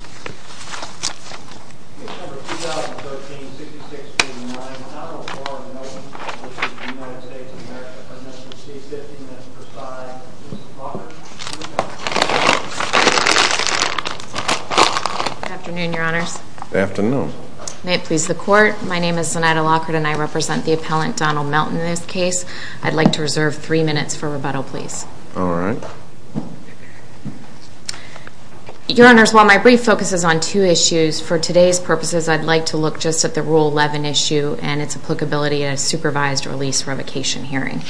and American presidency, 50 minutes per side. Mrs. Lockhart, please come to the podium. Good afternoon, Your Honors. Good afternoon. May it please the Court, my name is Zenaida Lockhart and I represent the appellant Donald Melton in this case. I'd like to reserve three minutes for rebuttal, please. All right. Your Honors, while my brief focuses on two issues, for today's purposes I'd like to look just at the Rule 11 issue and its applicability in a supervised release revocation hearing.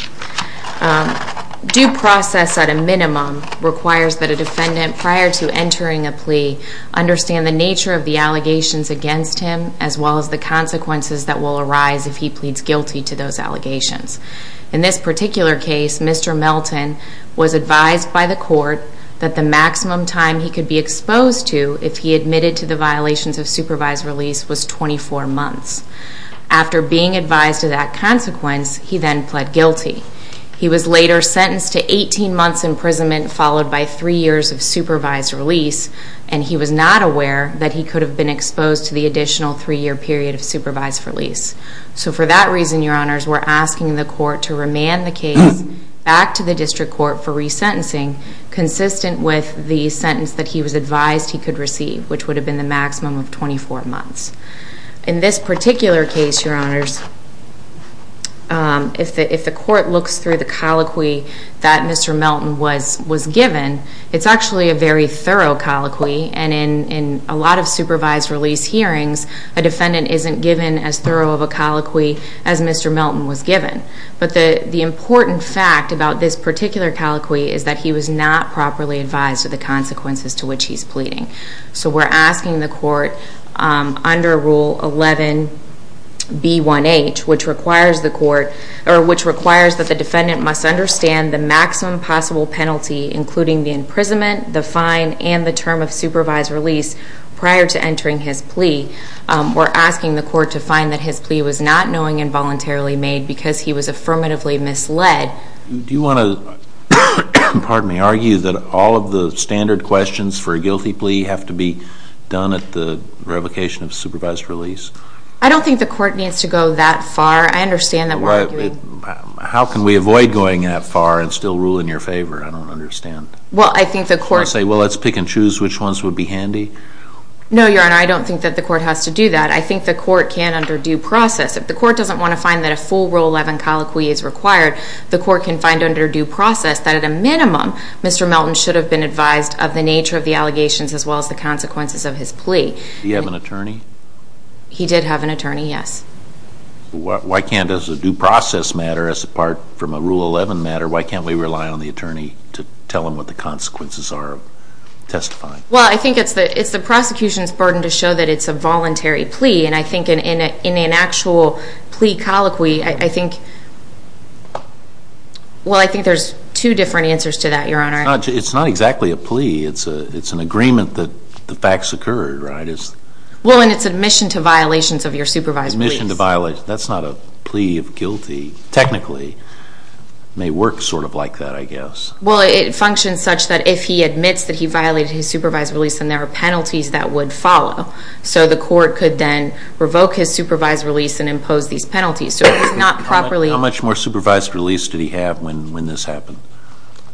Due process at a minimum requires that a defendant prior to entering a plea understand the nature of the allegations against him as well as the consequences that will arise if he pleads guilty to those allegations. In this particular case, Mr. Melton was advised by the Court that the maximum time he could be exposed to if he admitted to the violations of supervised release was 24 months. After being advised of that consequence, he then pled guilty. He was later sentenced to 18 months imprisonment followed by three years of supervised release, and he was not aware that he could have been exposed to the additional three-year period of supervised release. So for that reason, Your Honors, we're asking the Court to remand the case back to the District Court for resentencing consistent with the sentence that he was advised he could receive, which would have been the maximum of 24 months. In this particular case, Your Honors, if the Court looks through the colloquy that Mr. Melton was given, it's actually a very thorough colloquy, and in a lot of cases, Mr. Melton was given. But the important fact about this particular colloquy is that he was not properly advised of the consequences to which he's pleading. So we're asking the Court under Rule 11B1H, which requires that the defendant must understand the maximum possible penalty, including the imprisonment, the fine, and the term of supervised release prior to entering his plea. We're asking the Court to find that his plea was not knowing involuntarily made because he was affirmatively misled. Do you want to argue that all of the standard questions for a guilty plea have to be done at the revocation of supervised release? I don't think the Court needs to go that far. I understand that we're arguing... How can we avoid going that far and still rule in your favor? I don't understand. Well, I think the Court... You want to say, well, let's pick and choose which ones would be handy? No, Your Honor, I don't think that the Court has to do that. I think the Court can under due process. If the Court doesn't want to find that a full Rule 11 colloquy is required, the Court can find under due process that at a minimum, Mr. Melton should have been advised of the nature of the allegations as well as the consequences of his plea. Did he have an attorney? He did have an attorney, yes. Why can't, as a due process matter, as apart from a Rule 11 matter, why can't we rely on the attorney to tell him what the consequences are of testifying? Well, I think it's the prosecution's burden to show that it's a voluntary plea. And I think an actual plea colloquy, I think, well, I think there's two different answers to that, Your Honor. It's not exactly a plea. It's an agreement that the facts occurred, right? Well, and it's admission to violations of your supervised release. Admission to violations. That's not a plea of guilty, technically. It may work sort of like that, I guess. Well, it functions such that if he admits that he violated his supervised release, then there are penalties that would follow. So the court could then revoke his supervised release and impose these penalties. How much more supervised release did he have when this happened?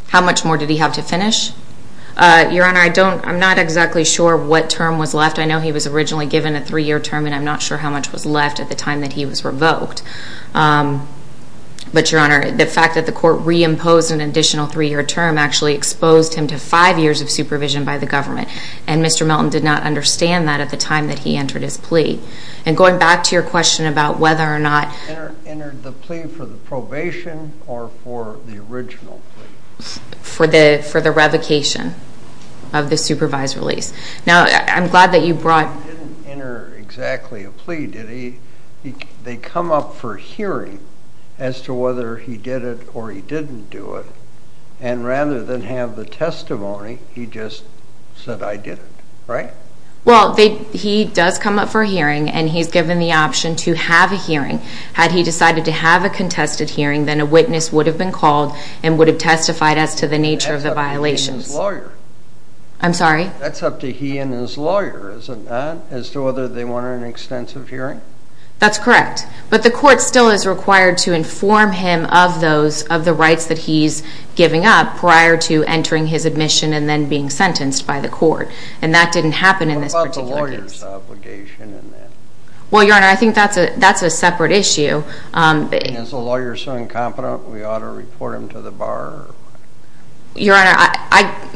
How much more did he have to finish? Your Honor, I'm not exactly sure what term was left. I know he was originally given a three-year term, and I'm not sure how much was left at the time that he was revoked. But Your Honor, the fact that the court reimposed an additional three-year term actually exposed him to five years of supervision by the government. And Mr. Melton did not understand that at the time that he entered his plea. And going back to your question about whether or not... Entered the plea for the probation or for the original plea? For the revocation of the supervised release. Now I'm glad that you brought... He didn't enter exactly a plea, did he? They come up for hearing as to whether he did it or he didn't do it. And rather than have the testimony, he just said, I did it, right? Well, he does come up for hearing, and he's given the option to have a hearing. Had he decided to have a contested hearing, then a witness would have been called and would have testified as to the nature of the violations. That's up to he and his lawyer. I'm sorry? That's up to he and his lawyer, is it not, as to whether they wanted an extensive hearing? That's correct. But the court still is required to inform him of those, of the rights that he's giving up prior to entering his admission and then being sentenced by the court. And that didn't happen in this particular case. What about the lawyer's obligation in that? Well, Your Honor, I think that's a separate issue. And is the lawyer so incompetent we ought to report him to the bar? Your Honor,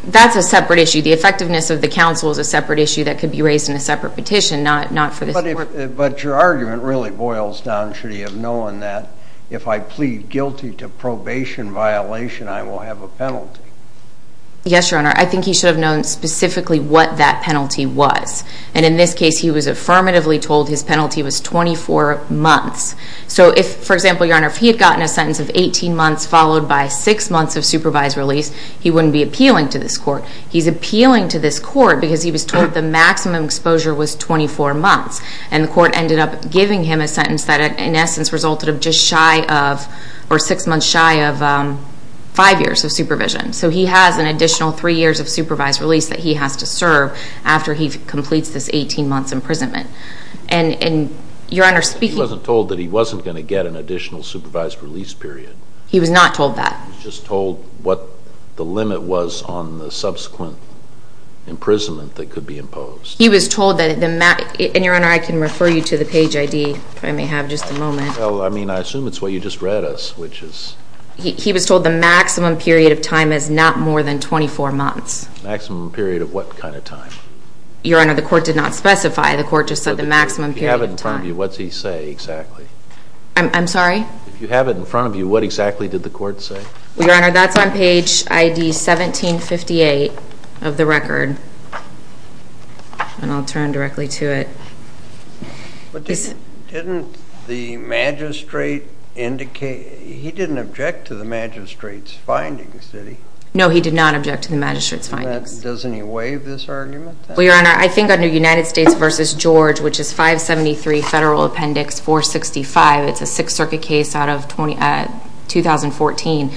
that's a separate issue. The effectiveness of the counsel is a separate issue that could be raised in a separate petition, not for this court. But your argument really boils down, should he have known that if I plead guilty to probation violation, I will have a penalty? Yes, Your Honor. I think he should have known specifically what that penalty was. And in this case, he was affirmatively told his penalty was 24 months. So if, for example, Your Honor, if he had gotten a sentence of 18 months followed by six months of supervised release, he wouldn't be appealing to this court. He's appealing to this court because he was told the maximum exposure was 24 months. And the court ended up giving him a sentence that, in essence, resulted of just shy of or six months shy of five years of supervision. So he has an additional three years of supervised release that he has to serve after he completes this 18 months imprisonment. And Your Honor, speaking... He wasn't told that he wasn't going to get an additional supervised release period. He was not told that. He was just told what the limit was on the subsequent imprisonment that could be imposed. He was told that... And Your Honor, I can refer you to the page ID if I may have just a moment. Well, I mean, I assume it's what you just read us, which is... He was told the maximum period of time is not more than 24 months. Maximum period of what kind of time? Your Honor, the court did not specify. The court just said the maximum period of time. If you have it in front of you, what's he say exactly? I'm sorry? If you have it in front of you, what exactly did the court say? Well, Your Honor, that's on page ID 1758 of the record. And I'll turn directly to it. But didn't the magistrate indicate... He didn't object to the magistrate's findings, did he? No, he did not object to the magistrate's findings. Doesn't he waive this argument then? Well, Your Honor, I think under United States v. George, which is 573 Federal Appendix 465, it's a Sixth Circuit case out of 2014,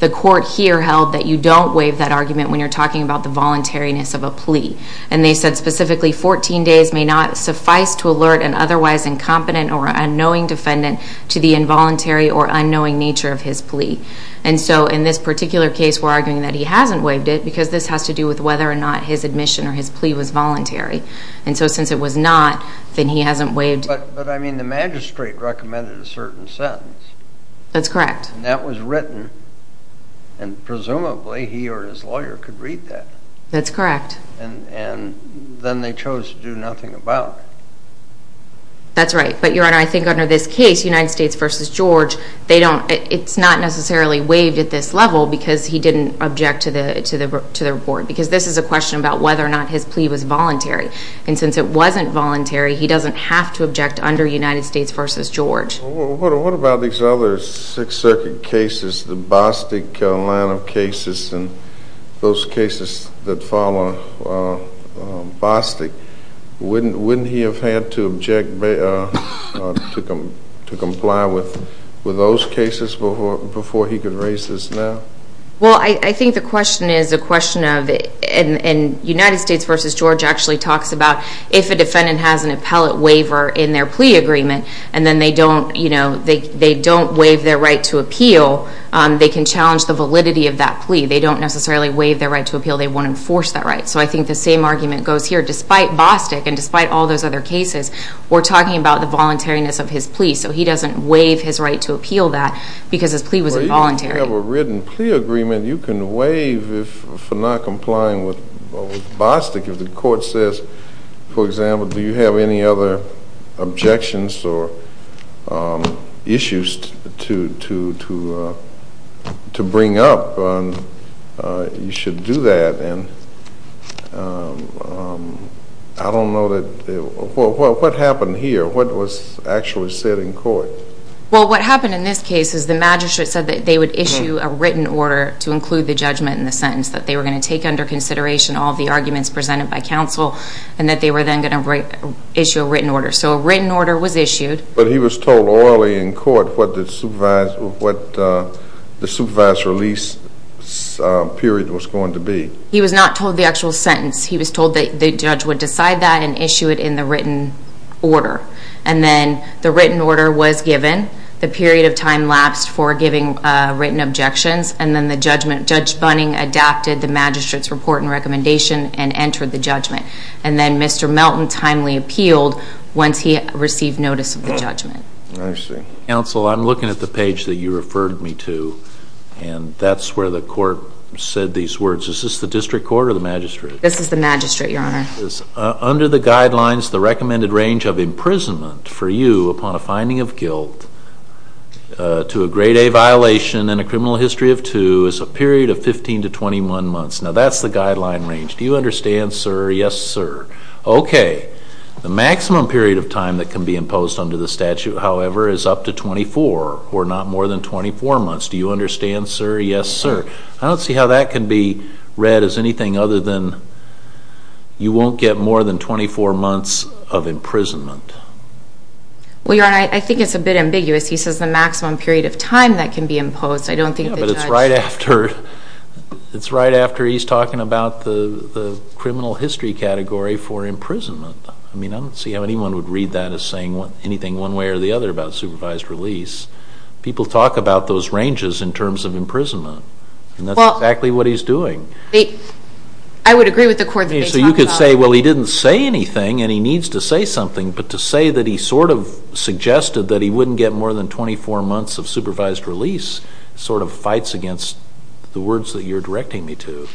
the court here held that you don't waive that argument when you're talking about the voluntariness of a plea. And they said specifically, 14 days may not suffice to alert an otherwise incompetent or unknowing defendant to the involuntary or unknowing nature of his plea. And so in this particular case, we're arguing that he hasn't waived it because this has to do with whether or not his admission or his plea was voluntary. And so since it was not, then he hasn't waived it. But I mean, the magistrate recommended a certain sentence. That's correct. And that was written. And presumably, he or his lawyer could read that. That's correct. And then they chose to do nothing about it. That's right. But Your Honor, I think under this case, United States v. George, it's not necessarily waived at this level because he didn't object to the report. Because this is a question about whether or not his plea was voluntary. And since it wasn't voluntary, he doesn't have to object under United States v. George. Well, what about these other Sixth Circuit cases, the Bostic line of cases and those cases that follow Bostic? Wouldn't he have had to object to comply with those cases before he could raise this now? Well, I think the question is a question of, and United States v. George actually talked about if a defendant has an appellate waiver in their plea agreement, and then they don't, you know, they don't waive their right to appeal, they can challenge the validity of that plea. They don't necessarily waive their right to appeal. They won't enforce that right. So I think the same argument goes here. Despite Bostic and despite all those other cases, we're talking about the voluntariness of his plea. So he doesn't waive his right to appeal that because his plea was involuntary. Well, even if you have a written plea agreement, you can waive for not complying with Bostic if the court says, for example, do you have any other objections or issues to bring up? You should do that, and I don't know that, well, what happened here? What was actually said in court? Well, what happened in this case is the magistrate said that they would issue a written order to include the judgment in the sentence that they were going to take under consideration all the arguments presented by counsel and that they were then going to issue a written order. So a written order was issued. But he was told orally in court what the supervised release period was going to be. He was not told the actual sentence. He was told that the judge would decide that and issue it in the written order. And then the written order was given, the period of time lapsed for giving written objections, and then the judgment, Judge Bunning adapted the magistrate's report and recommendation and entered the judgment. And then Mr. Melton timely appealed once he received notice of the judgment. I see. Counsel, I'm looking at the page that you referred me to, and that's where the court said these words. Is this the district court or the magistrate? This is the magistrate, Your Honor. Under the guidelines, the recommended range of imprisonment for you upon a finding of guilt to a grade A violation and a criminal history of two is a period of 15 to 21 months. Now, that's the guideline range. Do you understand, sir? Yes, sir. Okay. The maximum period of time that can be imposed under the statute, however, is up to 24 or not more than 24 months. Do you understand, sir? Yes, sir. I don't see how that can be read as anything other than you won't get more than 24 months of imprisonment. Well, Your Honor, I think it's a bit ambiguous. He says the maximum period of time that can be imposed. I don't think the judge... Yeah, but it's right after he's talking about the criminal history category for imprisonment. I mean, I don't see how anyone would read that as saying anything one way or the other about supervised release. People talk about those ranges in terms of imprisonment, and that's exactly what he's doing. Well, I would agree with the court that they talk about... But to say that he sort of suggested that he wouldn't get more than 24 months of supervised release sort of fights against the words that you're directing me to.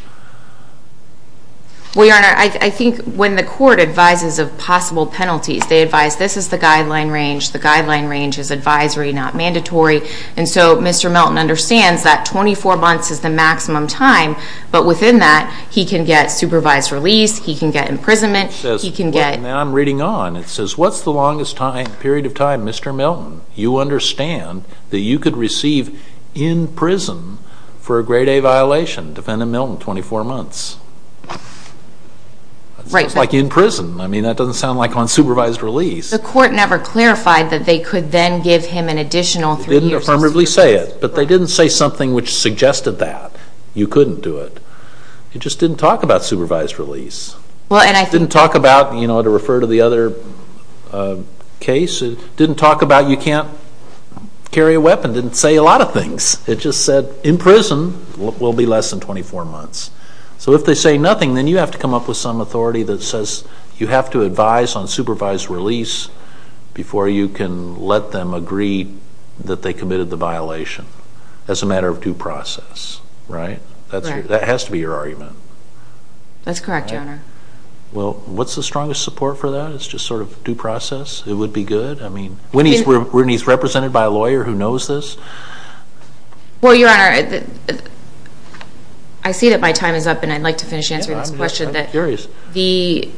Well, Your Honor, I think when the court advises of possible penalties, they advise this is the guideline range. The guideline range is advisory, not mandatory. And so Mr. Melton understands that 24 months is the maximum time, but within that, he can get supervised release, he can get imprisonment, he can get... And then I'm reading on, it says, what's the longest time, period of time, Mr. Melton, you understand, that you could receive in prison for a grade A violation, defendant Melton, 24 months? Right. Sounds like in prison. I mean, that doesn't sound like on supervised release. The court never clarified that they could then give him an additional three years of supervised release. They didn't affirmatively say it, but they didn't say something which suggested that you couldn't do it. It just didn't talk about supervised release. Well, and I think... Didn't talk about, you know, to refer to the other case, didn't talk about you can't carry a weapon, didn't say a lot of things. It just said in prison will be less than 24 months. So if they say nothing, then you have to come up with some authority that says you have to advise on supervised release before you can let them agree that they committed the violation as a matter of due process, right? Right. That has to be your argument. That's correct, Your Honor. Well, what's the strongest support for that? It's just sort of due process? It would be good? I mean, when he's represented by a lawyer who knows this? Well, Your Honor, I see that my time is up, and I'd like to finish answering this question. I'm curious. The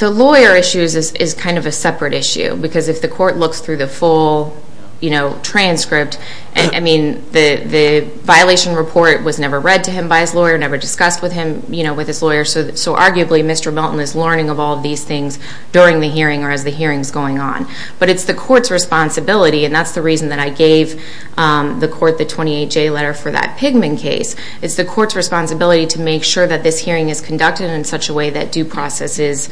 lawyer issues is kind of a separate issue, because if the court looks through the full, you know, transcript, I mean, the violation report was never read to him by his lawyer, never discussed with him. You know, with his lawyer, so arguably, Mr. Melton is learning of all these things during the hearing or as the hearing's going on. But it's the court's responsibility, and that's the reason that I gave the court the 28-J letter for that Pigman case. It's the court's responsibility to make sure that this hearing is conducted in such a way that due process is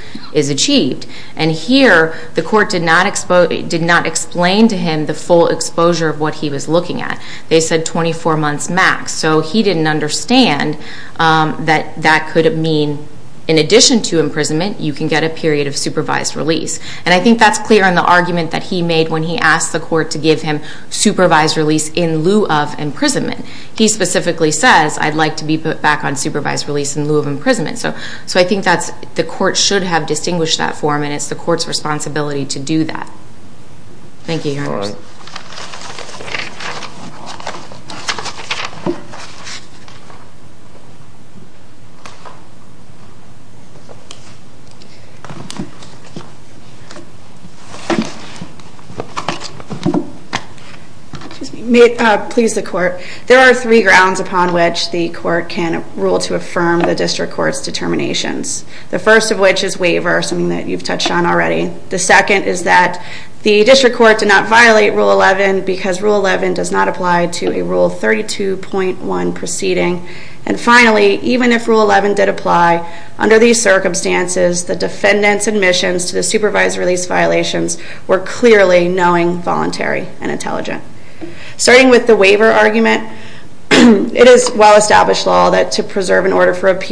achieved. And here, the court did not explain to him the full exposure of what he was looking at. They said 24 months max. So he didn't understand that that could mean, in addition to imprisonment, you can get a period of supervised release. And I think that's clear in the argument that he made when he asked the court to give him supervised release in lieu of imprisonment. He specifically says, I'd like to be put back on supervised release in lieu of imprisonment. So I think that's, the court should have distinguished that for him, and it's the court's responsibility to do that. Thank you, Your Honor. Thank you, Your Honor. May it please the court. There are three grounds upon which the court can rule to affirm the district court's determinations. The first of which is waiver, something that you've touched on already. The second is that the district court did not violate Rule 11 because Rule 11 does not apply to a Rule 32.1 proceeding. And finally, even if Rule 11 did apply, under these circumstances, the defendant's admissions to the supervised release violations were clearly knowing, voluntary, and intelligent. Starting with the waiver argument, it is well established law that to preserve an order for The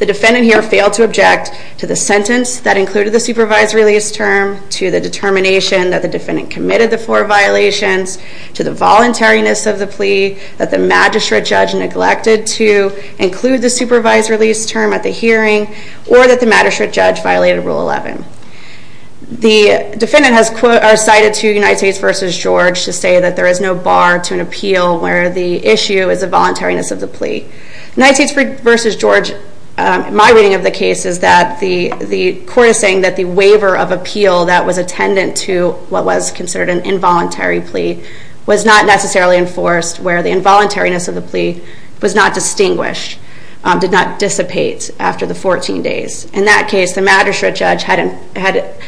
defendant here failed to object to the sentence that included the supervised release term, to the determination that the defendant committed the four violations, to the voluntariness of the plea, that the magistrate judge neglected to include the supervised release term at the hearing, or that the magistrate judge violated Rule 11. The defendant has cited to United States versus George to say that there is no bar to an appeal where the issue is the voluntariness of the plea. United States versus George, my reading of the case is that the court is saying that the waiver of appeal that was attendant to what was considered an involuntary plea was not necessarily enforced where the involuntariness of the plea was not distinguished, did not dissipate after the 14 days. In that case, the magistrate judge had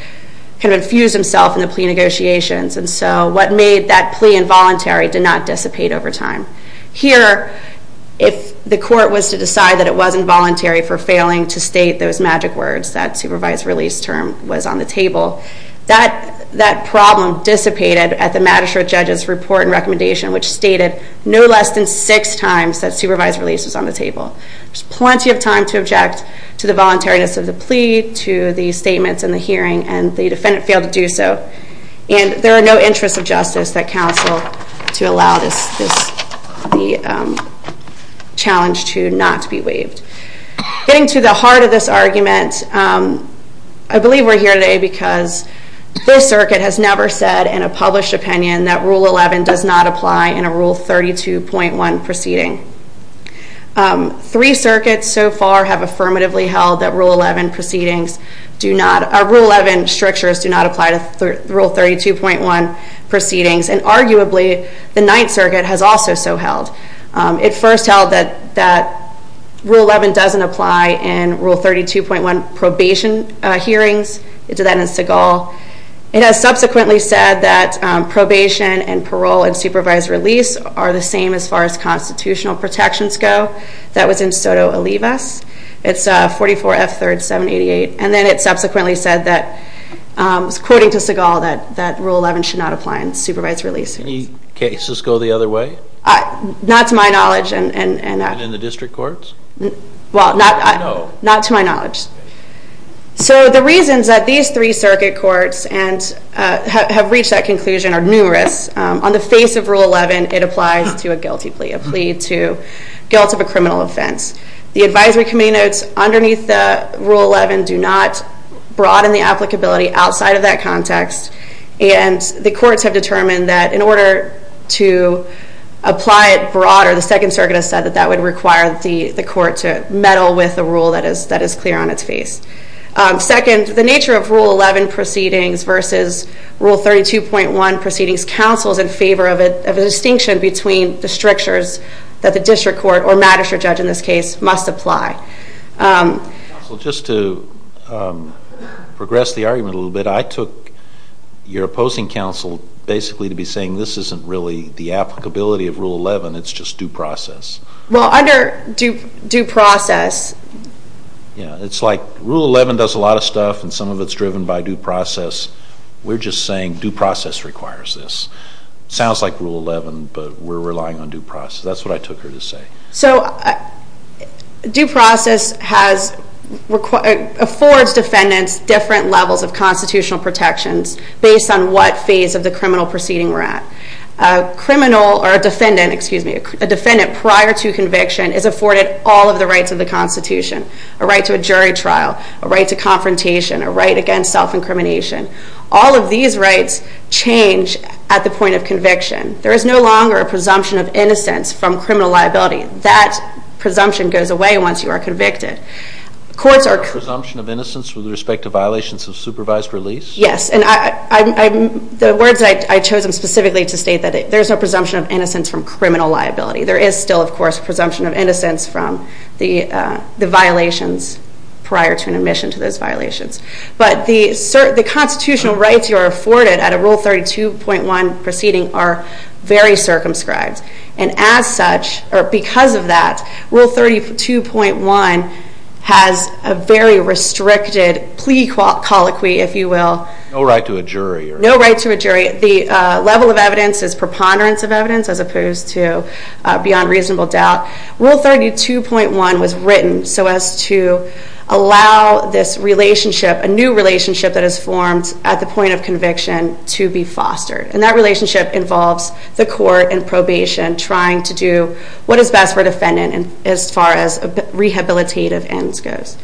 infused himself in the plea negotiations. And so what made that plea involuntary did not dissipate over time. Here, if the court was to decide that it wasn't voluntary for failing to state those magic words, that supervised release term was on the table, that problem dissipated at the magistrate judge's report and recommendation, which stated no less than six times that supervised release was on the table. There's plenty of time to object to the voluntariness of the plea, to the statements in the hearing, and the defendant failed to do so. And there are no interests of justice that counsel to allow this challenge to not be waived. Getting to the heart of this argument, I believe we're here today because this circuit has never said in a published opinion that Rule 11 does not apply in a Rule 32.1 proceeding. Three circuits so far have affirmatively held that Rule 11 proceedings do not, or Rule 11 strictures do not apply to Rule 32.1 proceedings, and arguably the Ninth Circuit has also so held. It first held that Rule 11 doesn't apply in Rule 32.1 probation hearings, it did that in Segal. It has subsequently said that probation and parole and supervised release are the same as far as constitutional protections go. That was in Soto Olivas. It's 44 F 3rd 788. And then it subsequently said that, according to Segal, that Rule 11 should not apply in supervised release. Any cases go the other way? Not to my knowledge. And in the district courts? Well, not to my knowledge. So the reasons that these three circuit courts have reached that conclusion are numerous. On the face of Rule 11, it applies to a guilty plea, a plea to guilt of a criminal offense. The advisory committee notes underneath the Rule 11 do not broaden the applicability outside of that context. And the courts have determined that in order to apply it broader, the Second Circuit has said that that would require the court to meddle with a rule that is clear on its face. Second, the nature of Rule 11 proceedings versus Rule 32.1 proceedings counsels in favor of a distinction between the strictures that the district court, or magistrate judge in this case, must apply. Counsel, just to progress the argument a little bit, I took your opposing counsel basically to be saying this isn't really the applicability of Rule 11, it's just due process. Well, under due process... Yeah, it's like Rule 11 does a lot of stuff, and some of it's driven by due process. We're just saying due process requires this. Sounds like Rule 11, but we're relying on due process. That's what I took her to say. So due process affords defendants different levels of constitutional protections based on what phase of the criminal proceeding we're at. A defendant prior to conviction is afforded all of the rights of the Constitution, a right to a jury trial, a right to confrontation, a right against self-incrimination. All of these rights change at the point of conviction. There is no longer a presumption of innocence from criminal liability. That presumption goes away once you are convicted. Is there a presumption of innocence with respect to violations of supervised release? Yes. And the words I chose them specifically to state that there's no presumption of innocence from criminal liability. There is still, of course, presumption of innocence from the violations prior to an admission to those violations. But the constitutional rights you are afforded at a Rule 32.1 proceeding are very circumscribed. And as such, or because of that, Rule 32.1 has a very restricted plea colloquy, if you will. No right to a jury. No right to a jury. The level of evidence is preponderance of evidence as opposed to beyond reasonable doubt. Rule 32.1 was written so as to allow this relationship, a new relationship that is formed at the point of conviction, to be fostered. And that relationship involves the court and probation trying to do what is best for a defendant as far as rehabilitative ends goes.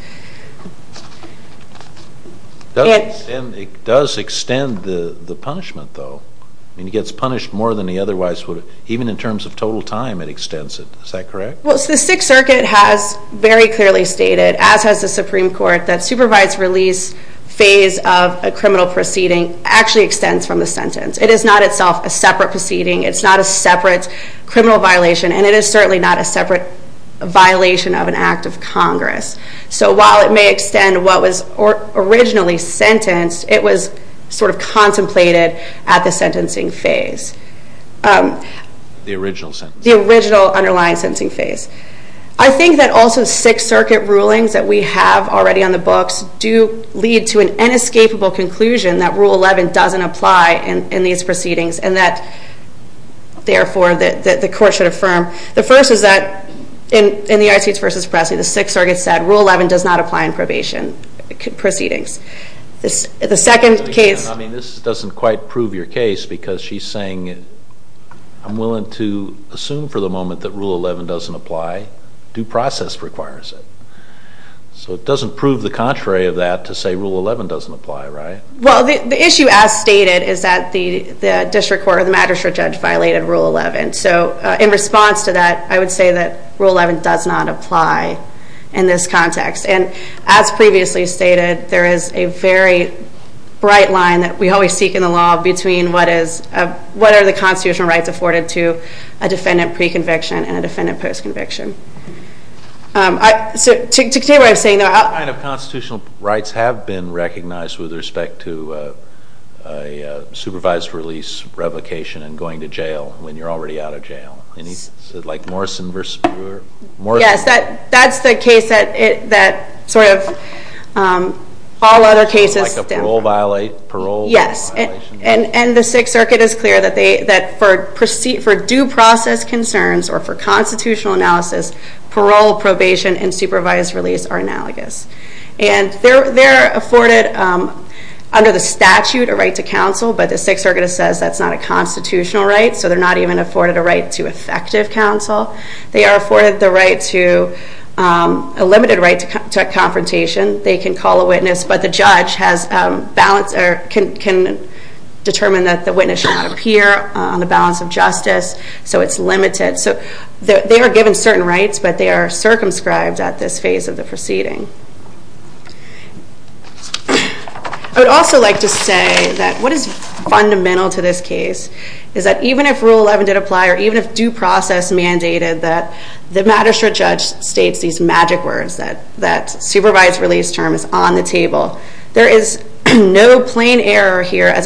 And it does extend the punishment, though. I mean, he gets punished more than he otherwise would have. Even in terms of total time, it extends it. Is that correct? Well, the Sixth Circuit has very clearly stated, as has the Supreme Court, that supervised release phase of a criminal proceeding actually extends from the sentence. It is not itself a separate proceeding. It's not a separate criminal violation. And it is certainly not a separate violation of an act of Congress. So while it may extend what was originally sentenced, it was sort of contemplated at the sentencing phase. The original sentence. The original underlying sentencing phase. I think that also Sixth Circuit rulings that we have already on the books do lead to an inescapable conclusion that Rule 11 doesn't apply in these proceedings, and that, therefore, the court should affirm. The first is that in the ICH versus Pressley, the Sixth Circuit said Rule 11 does not apply in probation proceedings. The second case- I mean, this doesn't quite prove your case, because she's saying I'm willing to assume for the moment that Rule 11 doesn't apply, due process requires it. So it doesn't prove the contrary of that to say Rule 11 doesn't apply, right? Well, the issue as stated is that the district court or the magistrate judge violated Rule 11. So in response to that, I would say that Rule 11 does not apply in this context. And as previously stated, there is a very bright line that we always seek in the law between what is, what are the constitutional rights afforded to a defendant pre-conviction and a defendant post-conviction. So to continue what I was saying- What kind of constitutional rights have been recognized with respect to a supervised release, revocation, and going to jail when you're already out of jail? Any, like Morrison versus Brewer? Yes, that's the case that sort of all other cases- Like a parole violation? Yes, and the Sixth Circuit is clear that for due process concerns or for constitutional analysis, parole, probation, and supervised release are analogous. And they're afforded, under the statute, a right to counsel, but the Sixth Circuit says that's not a constitutional right, so they're not even afforded a right to effective counsel. They are afforded the right to, a limited right to confrontation. They can call a witness, but the judge has balance, or can determine that the witness should not appear on the balance of justice, so it's limited. So they are given certain rights, but they are circumscribed at this phase of the proceeding. I would also like to say that what is fundamental to this case is that even if Rule 11 did apply, or even if due process mandated, that the magistrate judge states these magic words that supervised release term is on the table. There is no plain error here as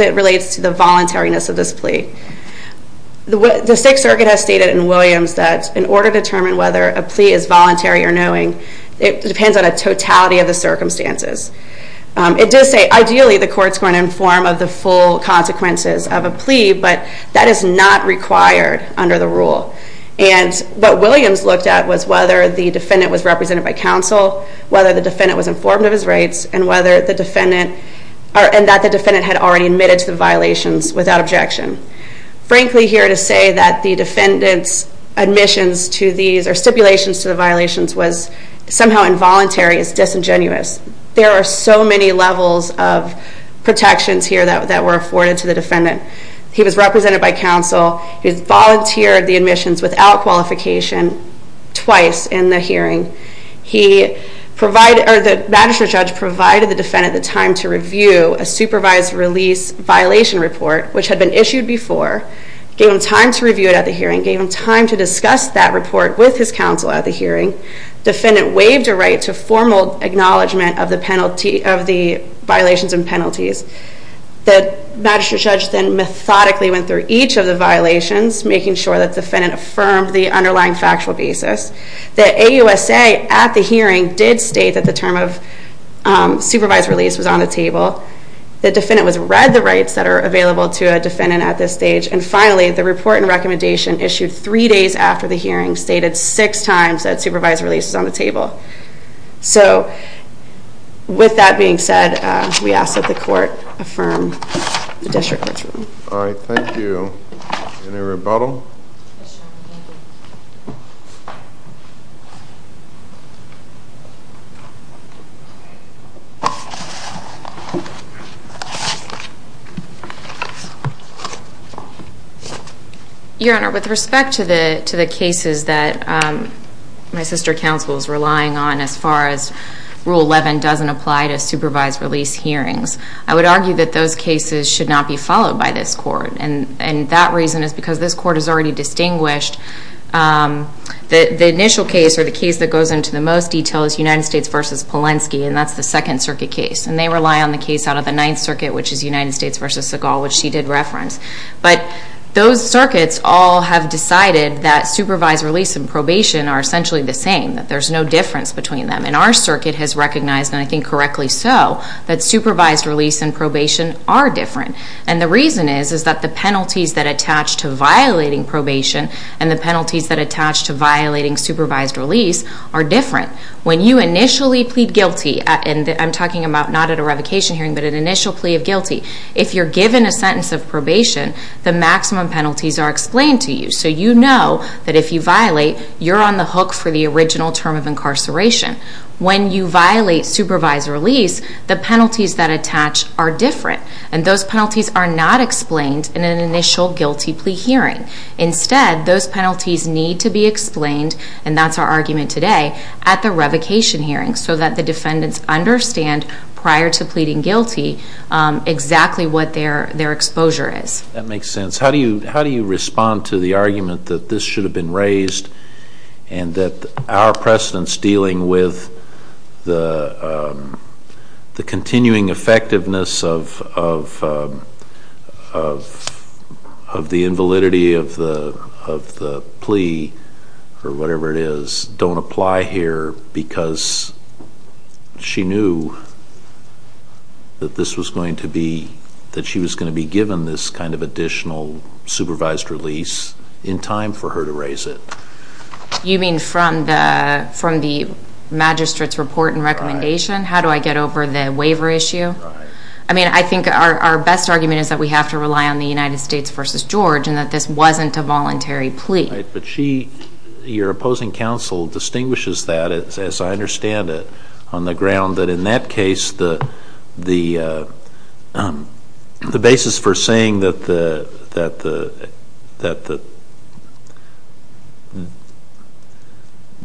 it relates to the voluntariness of this plea. The Sixth Circuit has stated in Williams that in order to determine whether a plea is voluntary or knowing, it depends on a totality of the circumstances. It does say, ideally, the court's going to inform of the full consequences of a plea, but that is not required under the rule. And what Williams looked at was whether the defendant was represented by counsel, whether the defendant was informed of his rights, and that the defendant had already admitted to the violations without objection. Frankly, here to say that the defendant's admissions to these, or stipulations to the violations, was somehow involuntary is disingenuous. There are so many levels of protections here that were afforded to the defendant. He was represented by counsel, he volunteered the admissions without qualification twice in the hearing. The magistrate judge provided the defendant the time to review a supervised release violation report, which had been issued before, gave him time to review it at the hearing, gave him time to discuss that report with his counsel at the hearing. Defendant waived a right to formal acknowledgment of the violations and penalties. The magistrate judge then methodically went through each of the violations, making sure that the defendant affirmed the underlying factual basis. The AUSA at the hearing did state that the term of supervised release was on the table. The defendant was read the rights that are available to a defendant at this stage. And finally, the report and recommendation issued three days after the hearing stated six times that supervised release is on the table. So with that being said, we ask that the court affirm the district court's ruling. All right, thank you. Any rebuttal? Your Honor, with respect to the cases that my sister counsel is relying on as far as rule 11 doesn't apply to supervised release hearings, I would argue that those cases should not be followed by this court. And that reason is because this court has already distinguished that the initial case, or the case that goes into the most detail, is United States versus Polensky, and that's the Second Circuit case. And they rely on the case out of the Ninth Circuit, which is United States versus Segal, which she did reference. But those circuits all have decided that supervised release and probation are essentially the same, that there's no difference between them. And our circuit has recognized, and I think correctly so, that supervised release and probation are different. And the reason is, is that the penalties that attach to violating probation and the penalties that attach to violating supervised release are different. When you initially plead guilty, and I'm talking about not at a revocation hearing, but an initial plea of guilty. If you're given a sentence of probation, the maximum penalties are explained to you. So you know that if you violate, you're on the hook for the original term of incarceration. When you violate supervised release, the penalties that attach are different. And those penalties are not explained in an initial guilty plea hearing. Instead, those penalties need to be explained, and that's our argument today, at the revocation hearing so that the defendants understand prior to pleading guilty exactly what their exposure is. That makes sense. How do you respond to the argument that this should have been raised and that our precedence dealing with the continuing effectiveness of the invalidity of the plea, or whatever it is, don't apply here because she knew that this was going to be, that she was going to be given this kind of additional supervised release in time for her to raise it? You mean from the magistrate's report and recommendation? How do I get over the waiver issue? I mean, I think our best argument is that we have to rely on the United States versus George and that this wasn't a voluntary plea. But she, your opposing counsel, distinguishes that, as I understand it, on the ground that in that case, the basis for saying that the,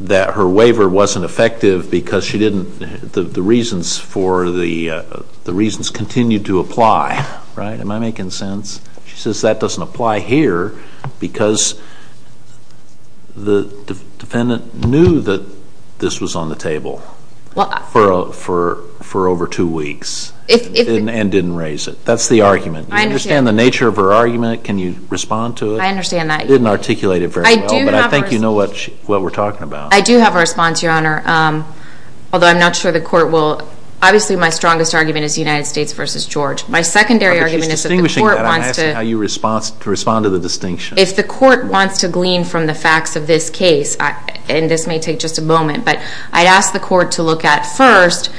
that her waiver wasn't effective because she didn't, the reasons for the, the reasons continue to apply, right? Am I making sense? She says that doesn't apply here because the defendant knew that this was on the table. For over two weeks and didn't raise it. That's the argument. I understand. You understand the nature of her argument. Can you respond to it? I understand that. You didn't articulate it very well, but I think you know what we're talking about. I do have a response, your honor, although I'm not sure the court will. Obviously, my strongest argument is United States versus George. My secondary argument is that the court wants to. But she's distinguishing that, I'm asking how you respond to the distinction. But I'd ask the court to look at first,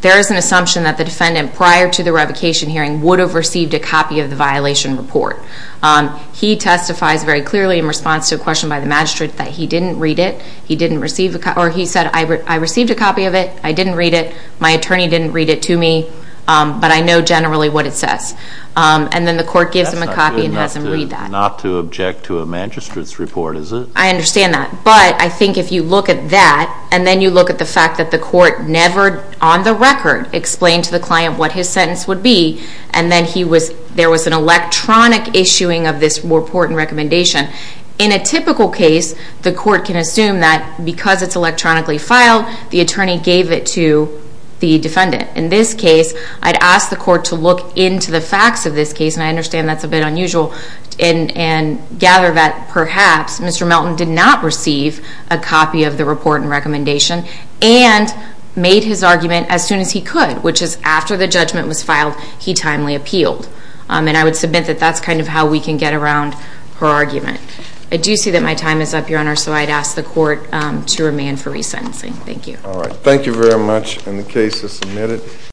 there is an assumption that the defendant, prior to the revocation hearing, would have received a copy of the violation report. He testifies very clearly in response to a question by the magistrate that he didn't read it. He didn't receive a copy, or he said, I received a copy of it. I didn't read it. My attorney didn't read it to me. But I know generally what it says. And then the court gives him a copy and has him read that. Not to object to a magistrate's report, is it? I understand that. But I think if you look at that, and then you look at the fact that the court never, on the record, explained to the client what his sentence would be. And then there was an electronic issuing of this report and recommendation. In a typical case, the court can assume that because it's electronically filed, the attorney gave it to the defendant. In this case, I'd ask the court to look into the facts of this case. And I understand that's a bit unusual. And gather that, perhaps, Mr. Melton did not receive a copy of the report and recommendation and made his argument as soon as he could, which is after the judgment was filed, he timely appealed. And I would submit that that's kind of how we can get around her argument. I do see that my time is up, Your Honor. So I'd ask the court to remand for resentencing. Thank you. All right. Thank you very much. And the case is submitted.